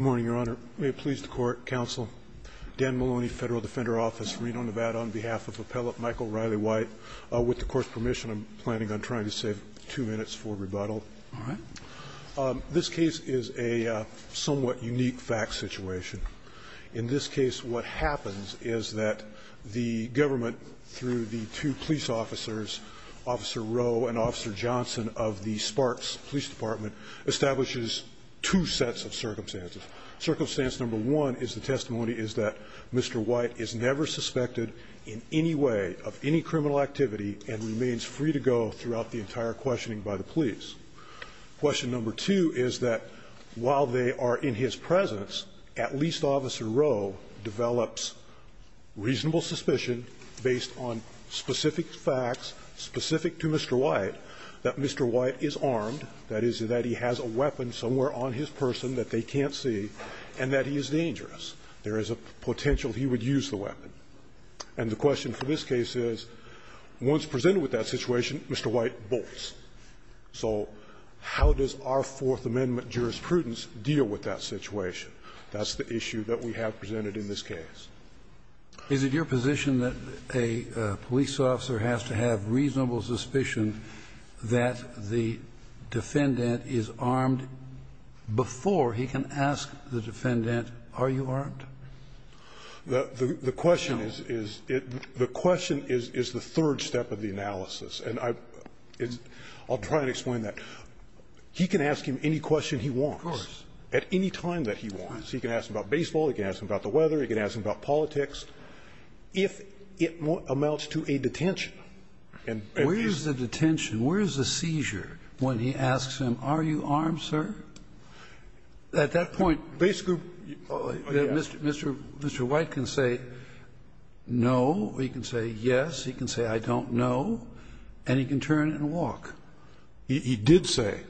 Good morning, Your Honor. May it please the Court, Counsel, Dan Maloney, Federal Defender Office, Reno, Nevada, on behalf of Appellant Michael Riley White, with the Court's permission, I'm planning on trying to save two minutes for rebuttal. All right. This case is a somewhat unique fact situation. In this case, what happens is that the government, through the two police officers, Officer Rowe and Officer Johnson of the Sparks Police Department, establishes two sets of circumstances. Circumstance number one is the testimony is that Mr. White is never suspected in any way of any criminal activity and remains free to go throughout the entire questioning by the police. Question number two is that while they are in his presence, at least Officer Rowe develops reasonable suspicion based on specific facts specific to Mr. White that Mr. White is armed, that is, that he has a weapon somewhere on his person that they can't see, and that he is dangerous. There is a potential he would use the weapon. And the question for this case is, once presented with that situation, Mr. White bolts. So how does our Fourth Amendment jurisprudence deal with that situation? That's the issue that we have presented in this case. Is it your position that a police officer has to have reasonable suspicion that the defendant is armed before he can ask the defendant, are you armed? The question is the third step of the analysis. And I'll try and explain that. He can ask him any question he wants. Scalia, of course. At any time that he wants. He can ask him about baseball. He can ask him about the weather. He can ask him about politics. If it amounts to a detention. And if he's armed. Where is the detention? Where is the seizure when he asks him, are you armed, sir? At that point, Mr. White can say no. He can say yes. He can say I don't know. And he can turn and walk. He did say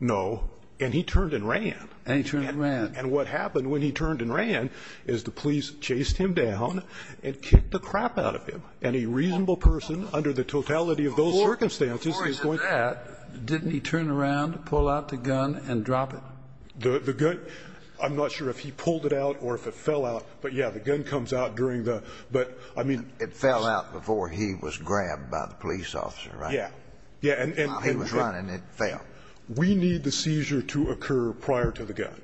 no. And he turned and ran. And he turned and ran. And what happened when he turned and ran is the police chased him down and kicked the crap out of him. And a reasonable person under the totality of those circumstances is going to. Didn't he turn around, pull out the gun and drop it? The gun, I'm not sure if he pulled it out or if it fell out. But, yeah, the gun comes out during the. It fell out before he was grabbed by the police officer, right? Yeah. While he was running, it fell. We need the seizure to occur prior to the gun.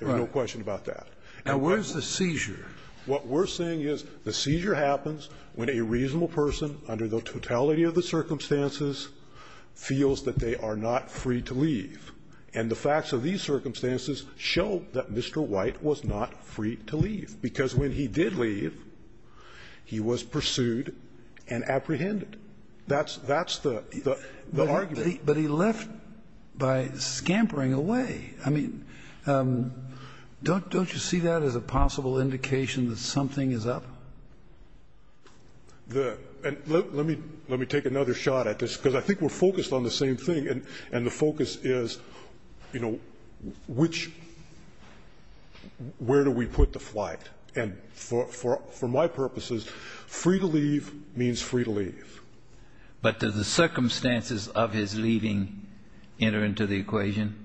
There's no question about that. Now, where's the seizure? What we're saying is the seizure happens when a reasonable person under the totality of the circumstances feels that they are not free to leave. And the facts of these circumstances show that Mr. White was not free to leave. Because when he did leave, he was pursued and apprehended. That's the argument. But he left by scampering away. I mean, don't you see that as a possible indication that something is up? Let me take another shot at this, because I think we're focused on the same thing. And the focus is, you know, which – where do we put the flight? And for my purposes, free to leave means free to leave. But do the circumstances of his leaving enter into the equation?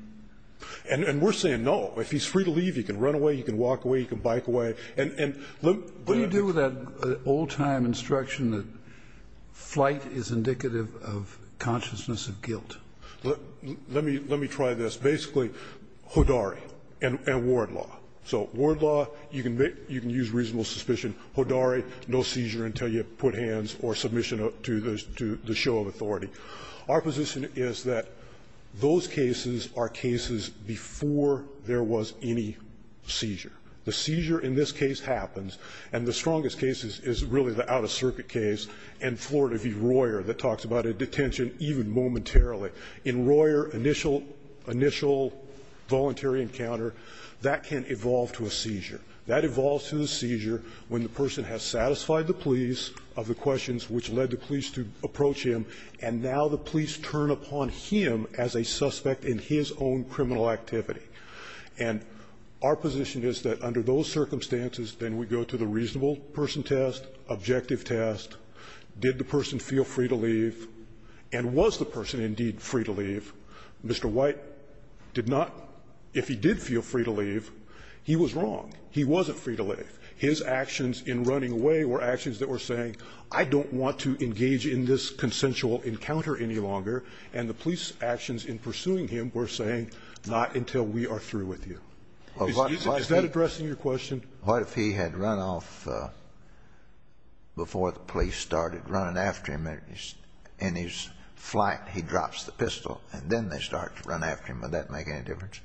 And we're saying no. If he's free to leave, he can run away, he can walk away, he can bike away. And let me – Sotomayor, what is that old-time instruction that flight is indicative of consciousness of guilt? Let me try this. Basically, Hodari and ward law. So ward law, you can use reasonable suspicion. Hodari, no seizure until you put hands or submission to the show of authority. Our position is that those cases are cases before there was any seizure. The seizure in this case happens, and the strongest case is really the out-of-circuit case in Florida v. Royer that talks about a detention even momentarily. In Royer, initial voluntary encounter, that can evolve to a seizure. That evolves to a seizure when the person has satisfied the police of the questions which led the police to approach him, and now the police turn upon him as a suspect in his own criminal activity. And our position is that under those circumstances, then we go to the reasonable person test, objective test. Did the person feel free to leave? And was the person indeed free to leave? Mr. White did not. If he did feel free to leave, he was wrong. He wasn't free to leave. His actions in running away were actions that were saying, I don't want to engage in this consensual encounter any longer. And the police actions in pursuing him were saying, not until we are through with you. Is that addressing your question? What if he had run off before the police started running after him, and in his flight he drops the pistol, and then they start to run after him? Would that make any difference?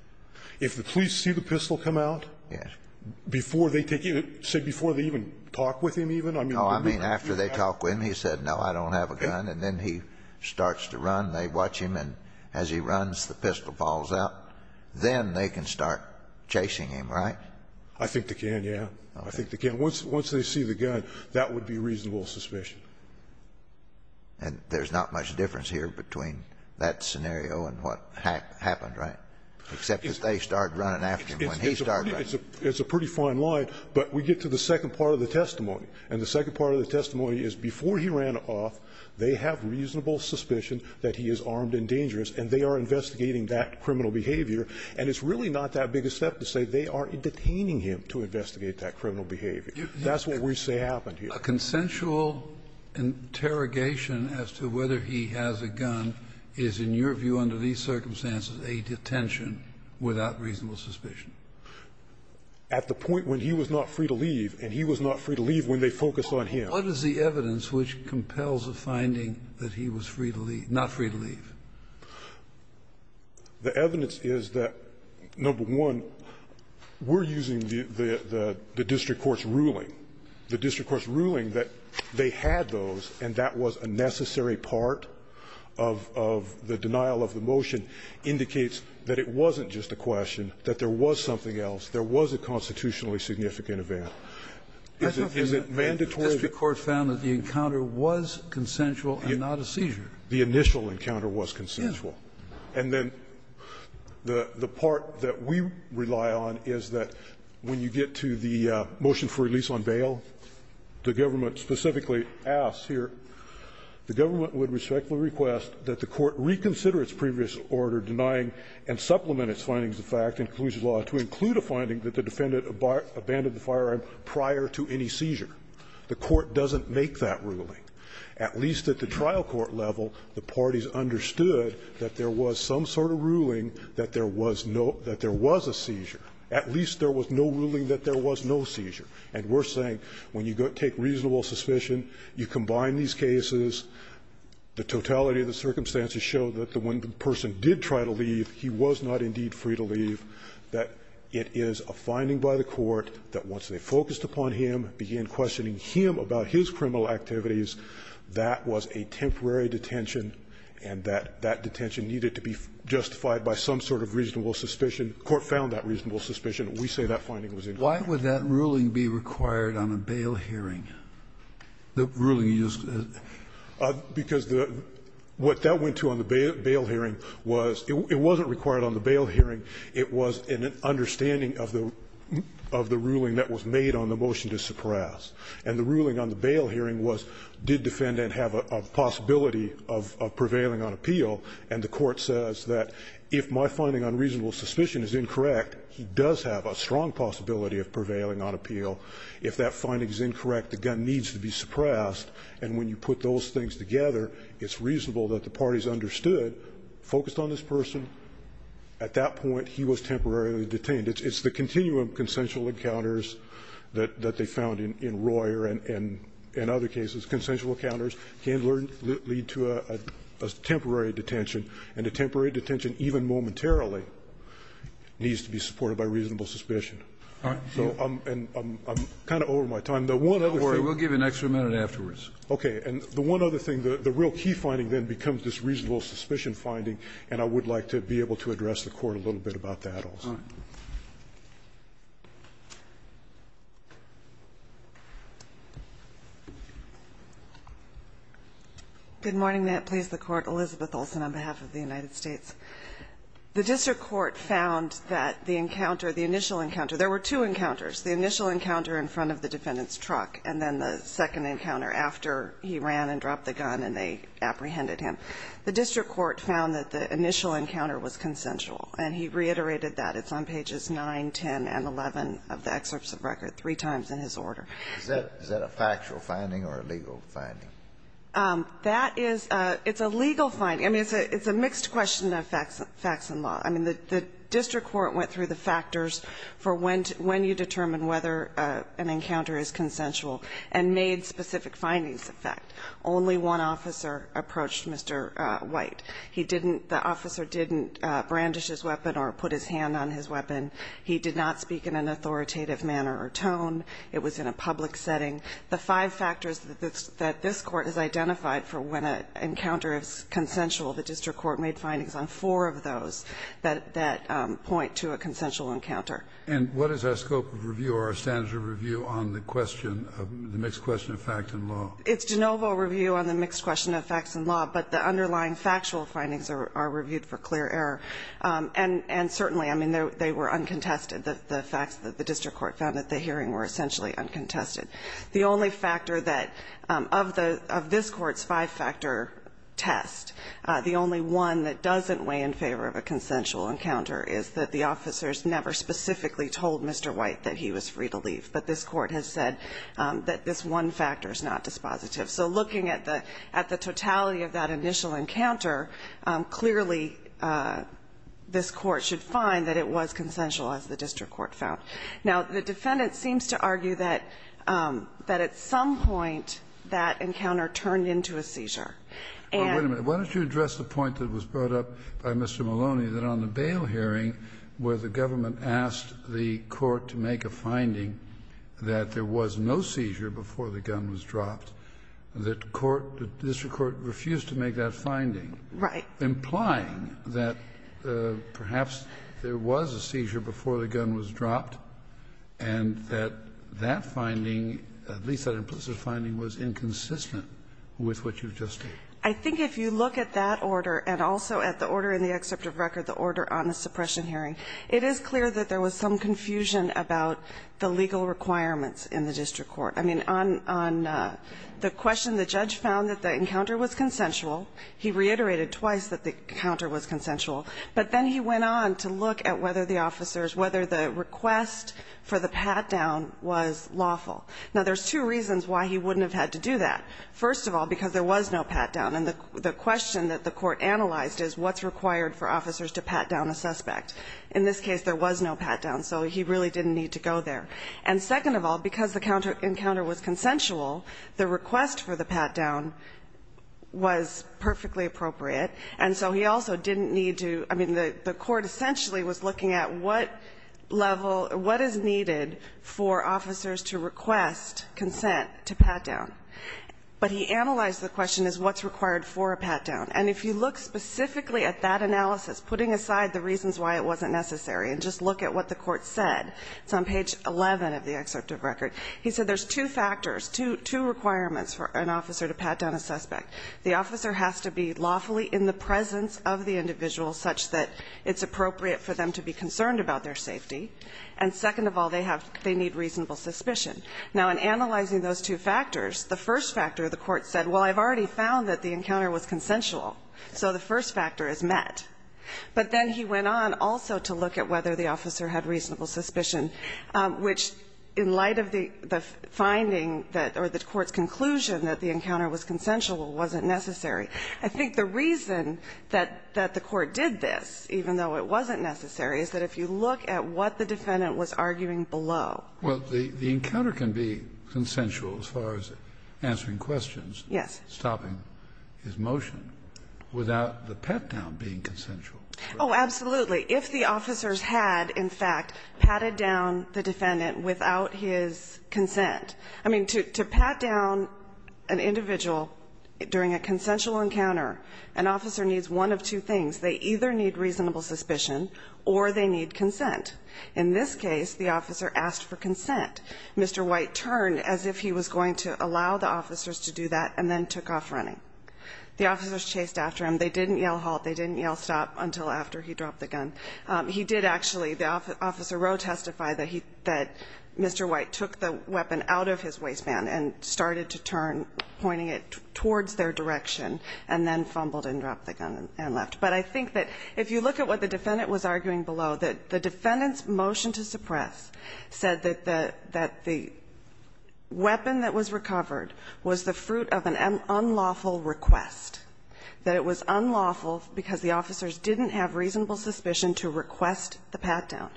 If the police see the pistol come out? Yes. Before they take it, say before they even talk with him even? No, I mean after they talk with him. He said, no, I don't have a gun. And then he starts to run. They watch him. And as he runs, the pistol falls out. Then they can start chasing him, right? I think they can, yes. I think they can. Once they see the gun, that would be reasonable suspicion. And there's not much difference here between that scenario and what happened, right? Except that they started running after him when he started running after him. It's a pretty fine line. But we get to the second part of the testimony. And the second part of the testimony is before he ran off, they have reasonable suspicion that he is armed and dangerous, and they are investigating that criminal behavior. And it's really not that big a step to say they are detaining him to investigate that criminal behavior. That's what we say happened here. A consensual interrogation as to whether he has a gun is, in your view, under these circumstances, a detention without reasonable suspicion. At the point when he was not free to leave, and he was not free to leave when they focused on him. What is the evidence which compels the finding that he was free to leave, not free to leave? The evidence is that, number one, we're using the district court's ruling. The district court's ruling that they had those and that was a necessary part of the motion indicates that it wasn't just a question, that there was something else. There was a constitutionally significant event. Is it mandatory? The district court found that the encounter was consensual and not a seizure. The initial encounter was consensual. Yes. And then the part that we rely on is that when you get to the motion for release on bail, the government specifically asks here, the government would respectfully request that the court reconsider its previous order denying and supplement its findings of fact and conclusive law to include a finding that the defendant abandoned the firearm prior to any seizure. The court doesn't make that ruling. At least at the trial court level, the parties understood that there was some sort of ruling that there was no, that there was a seizure. At least there was no ruling that there was no seizure. And we're saying when you take reasonable suspicion, you combine these cases, the totality of the circumstances show that when the person did try to leave, he was not indeed free to leave, that it is a finding by the court that once they focused upon him, began questioning him about his criminal activities, that was a temporary detention and that that detention needed to be justified by some sort of reasonable suspicion. The court found that reasonable suspicion. We say that finding was incorrect. Why would that ruling be required on a bail hearing? The ruling used. Because the, what that went to on the bail hearing was, it wasn't required on the bail hearing. It was an understanding of the, of the ruling that was made on the motion to suppress. And the ruling on the bail hearing was, did defendant have a possibility of prevailing on appeal? And the court says that if my finding on reasonable suspicion is incorrect, he does have a strong possibility of prevailing on appeal. If that finding is incorrect, the gun needs to be suppressed. And when you put those things together, it's reasonable that the parties understood, focused on this person, at that point he was temporarily detained. It's the continuum of consensual encounters that they found in Royer and other cases. Consensual encounters can lead to a temporary detention. And a temporary detention, even momentarily, needs to be supported by reasonable suspicion. All right. So I'm, I'm kind of over my time. The one other thing. Don't worry, we'll give you an extra minute afterwards. Okay. And the one other thing, the real key finding then becomes this reasonable suspicion finding. And I would like to be able to address the court a little bit about that also. All right. Good morning. Good morning. May it please the Court. Elizabeth Olson on behalf of the United States. The district court found that the encounter, the initial encounter, there were two encounters. The initial encounter in front of the defendant's truck and then the second encounter after he ran and dropped the gun and they apprehended him. The district court found that the initial encounter was consensual. And he reiterated that. It's on pages 9, 10, and 11 of the excerpts of record, three times in his order. Is that a factual finding or a legal finding? That is, it's a legal finding. I mean, it's a mixed question of facts and law. I mean, the district court went through the factors for when you determine whether an encounter is consensual and made specific findings of fact. Only one officer approached Mr. White. He didn't, the officer didn't brandish his weapon or put his hand on his weapon. He did not speak in an authoritative manner or tone. It was in a public setting. The five factors that this court has identified for when an encounter is consensual, the district court made findings on four of those that point to a consensual encounter. And what is our scope of review or our standards of review on the question, the mixed question of facts and law? It's de novo review on the mixed question of facts and law, but the underlying factual findings are reviewed for clear error. And certainly, I mean, they were uncontested, the facts that the district court found at the hearing were essentially uncontested. The only factor that, of this court's five-factor test, the only one that doesn't weigh in favor of a consensual encounter is that the officers never specifically told Mr. White that he was free to leave. But this court has said that this one factor is not dispositive. So looking at the totality of that initial encounter, clearly this court should find that it was consensual, as the district court found. Now, the defendant seems to argue that at some point that encounter turned into a seizure. And the district court refused to make that finding, implying that perhaps there was a seizure before the gun was dropped. And that that finding, at least that implicit finding, was inconsistent with what you've just said. I think if you look at that order and also at the order in the excerpt of record, the order on the suppression hearing, it is clear that there was some confusion about the legal requirements in the district court. I mean, on the question, the judge found that the encounter was consensual. He reiterated twice that the encounter was consensual. But then he went on to look at whether the officers, whether the request for the pat-down was lawful. Now, there's two reasons why he wouldn't have had to do that. First of all, because there was no pat-down. And the question that the court analyzed is what's required for officers to pat down a suspect. In this case, there was no pat-down. So he really didn't need to go there. And second of all, because the encounter was consensual, the request for the pat-down was perfectly appropriate. And so he also didn't need to, I mean, the court essentially was looking at what level, what is needed for officers to request consent to pat down. But he analyzed the question as what's required for a pat-down. And if you look specifically at that analysis, putting aside the reasons why it wasn't necessary, and just look at what the court said, it's on page 11 of the excerpt of record, he said there's two factors, two requirements for an officer to pat down a suspect. The officer has to be lawfully in the presence of the individual such that it's appropriate for them to be concerned about their safety. And second of all, they need reasonable suspicion. Now, in analyzing those two factors, the first factor, the court said, well, I've already found that the encounter was consensual. So the first factor is met. But then he went on also to look at whether the officer had reasonable suspicion, which in light of the finding that, or the court's conclusion that the encounter was consensual wasn't necessary. I think the reason that the court did this, even though it wasn't necessary, is that if you look at what the defendant was arguing below. Kennedy, the encounter can be consensual as far as answering questions. Yes. Stopping his motion without the pat-down being consensual. Oh, absolutely. If the officers had, in fact, patted down the defendant without his consent, I mean, to pat down an individual during a consensual encounter, an officer needs one of two things. They either need reasonable suspicion or they need consent. In this case, the officer asked for consent. Mr. White turned as if he was going to allow the officers to do that and then took off running. The officers chased after him. They didn't yell halt. They didn't yell stop until after he dropped the gun. He did actually, Officer Rowe testified that he, that Mr. White took the weapon out of his waistband and started to turn, pointing it towards their direction and then fumbled and dropped the gun and left. But I think that if you look at what the defendant was arguing below, that the defendant's motion to suppress said that the weapon that was recovered was the fruit of an unlawful request, that it was unlawful because the officers didn't have reasonable suspicion to request the pat-down.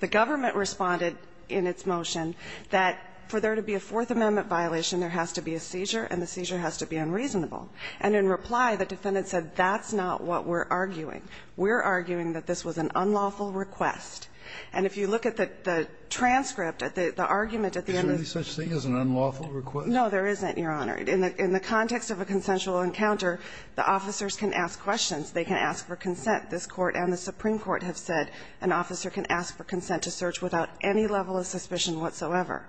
The government responded in its motion that for there to be a Fourth Amendment violation, there has to be a seizure and the seizure has to be unreasonable. And in reply, the defendant said, that's not what we're arguing. We're arguing that this was an unlawful request. And if you look at the transcript, the argument at the end of the Is there any such thing as an unlawful request? No, there isn't, Your Honor. In the context of a consensual encounter, the officers can ask questions. They can ask for consent. This Court and the Supreme Court have said an officer can ask for consent to search without any level of suspicion whatsoever.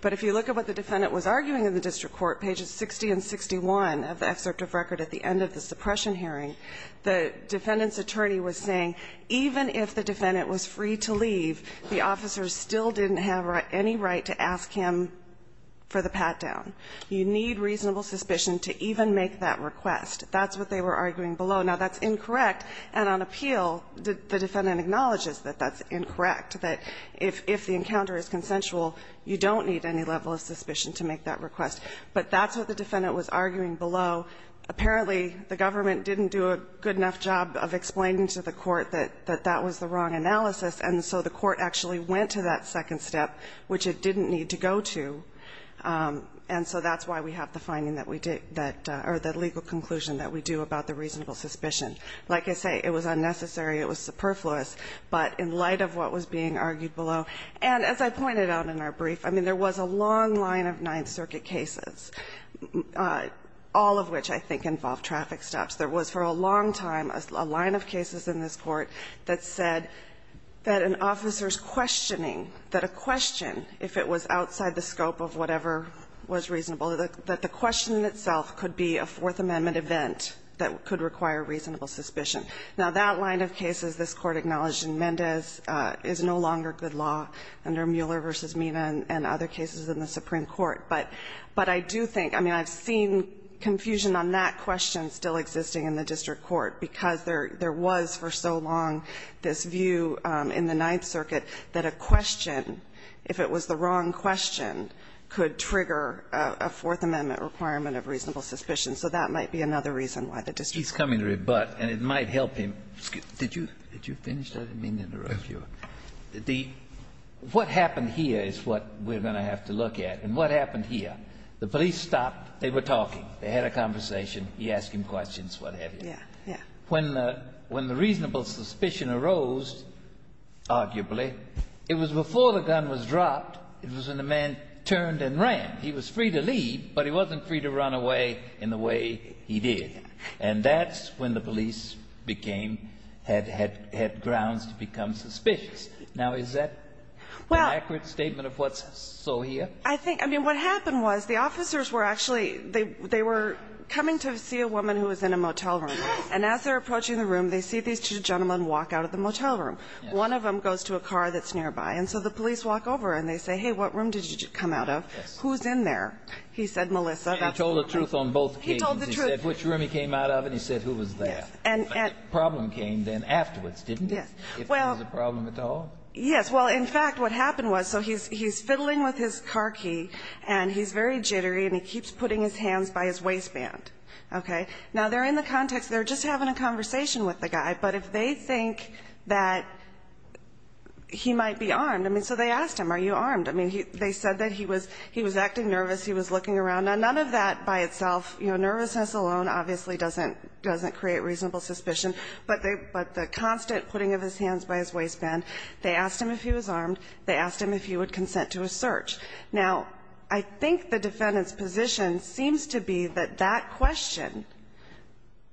But if you look at what the defendant was arguing in the district court, pages 60 and 61 of the excerpt of record at the end of the suppression hearing, the defendant's attorney was saying even if the defendant was free to leave, the officers still didn't have any right to ask him for the pat-down. You need reasonable suspicion to even make that request. That's what they were arguing below. Now, that's incorrect. And on appeal, the defendant acknowledges that that's incorrect, that if the encounter is consensual, you don't need any level of suspicion to make that request. But that's what the defendant was arguing below. Apparently, the government didn't do a good enough job of explaining to the court that that was the wrong analysis, and so the court actually went to that second step, which it didn't need to go to. And so that's why we have the finding that we did that or the legal conclusion that we do about the reasonable suspicion. Like I say, it was unnecessary. It was superfluous. But in light of what was being argued below, and as I pointed out in our brief, I mean, there was a long line of Ninth Circuit cases, all of which I think involved traffic stops. There was for a long time a line of cases in this Court that said that an officer's questioning, that a question, if it was outside the scope of whatever was reasonable, that the question itself could be a Fourth Amendment event that could require reasonable suspicion. Now, that line of cases this Court acknowledged in Mendez is no longer good law under Mueller v. Mina and other cases in the Supreme Court. But I do think, I mean, I've seen confusion on that question still existing in the district court, because there was for so long this view in the Ninth Circuit that a question, if it was the wrong question, could trigger a Fourth Amendment requirement of reasonable suspicion. So that might be another reason why the district court. He's coming to rebut, and it might help him. Did you finish? I didn't mean to interrupt you. What happened here is what we're going to have to look at. And what happened here, the police stopped. They were talking. They had a conversation. He asked him questions, what have you. Yeah, yeah. When the reasonable suspicion arose, arguably, it was before the gun was dropped, it was when the man turned and ran. He was free to leave, but he wasn't free to run away in the way he did. And that's when the police became, had grounds to become suspicious. Now, is that an accurate statement of what's so here? I think, I mean, what happened was the officers were actually, they were coming to see a woman who was in a motel room. And as they're approaching the room, they see these two gentlemen walk out of the motel room. One of them goes to a car that's nearby. And so the police walk over, and they say, hey, what room did you come out of? Who's in there? He said, Melissa. And he told the truth on both occasions. He told the truth. He said which room he came out of, and he said who was there. And the problem came then afterwards, didn't it? Yes. If there was a problem at all. Yes. Well, in fact, what happened was, so he's fiddling with his car key, and he's very jittery, and he keeps putting his hands by his waistband. Okay. Now, they're in the context, they're just having a conversation with the guy. But if they think that he might be armed, I mean, so they asked him, are you armed? I mean, they said that he was acting nervous. He was looking around. Now, none of that by itself, you know, nervousness alone obviously doesn't create reasonable suspicion. But the constant putting of his hands by his waistband, they asked him if he was armed. They asked him if he would consent to a search. Now, I think the defendant's position seems to be that that question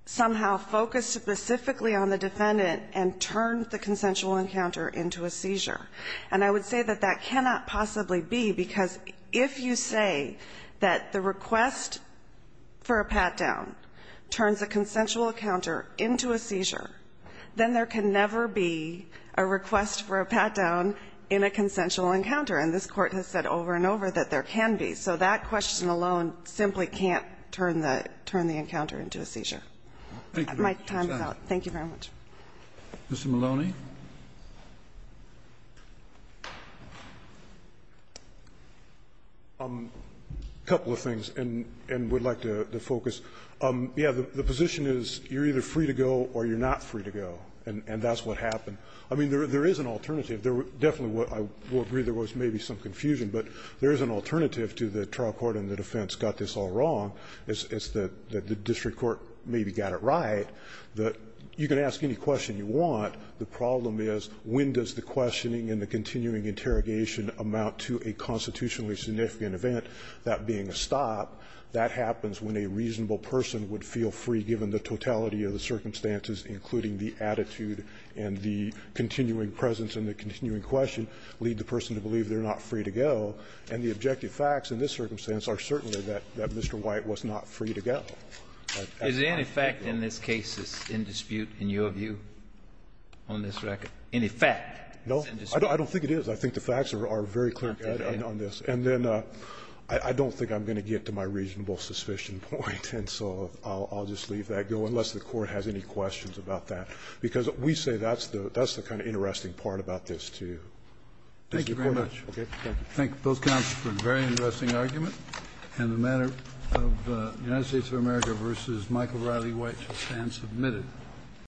somehow focused specifically on the defendant and turned the consensual encounter into a seizure. And I would say that that cannot possibly be, because if you say that the request for a pat-down turns a consensual encounter into a seizure, then there can never be a request for a pat-down in a consensual encounter. And this Court has said over and over that there can be. So that question alone simply can't turn the encounter into a seizure. My time is out. Thank you very much. Mr. Maloney. Maloney. A couple of things, and we'd like to focus. Yes, the position is you're either free to go or you're not free to go, and that's what happened. I mean, there is an alternative. Definitely, I would agree there was maybe some confusion, but there is an alternative to the trial court and the defense got this all wrong. It's that the district court maybe got it right. You can ask any question you want. The problem is when does the questioning and the continuing interrogation amount to a constitutionally significant event, that being a stop? That happens when a reasonable person would feel free, given the totality of the lead the person to believe they're not free to go, and the objective facts in this circumstance are certainly that Mr. White was not free to go. Is there any fact in this case that's in dispute, in your view, on this record? Any fact that's in dispute? No. I don't think it is. I think the facts are very clear on this. And then I don't think I'm going to get to my reasonable suspicion point, and so I'll just leave that going, unless the Court has any questions about that. Because we say that's the kind of interesting part about this, too. Thank you very much. Thank you. Thank you. Thank you, both counsel, for a very interesting argument. And the matter of the United States of America v. Michael Riley White shall stand submitted.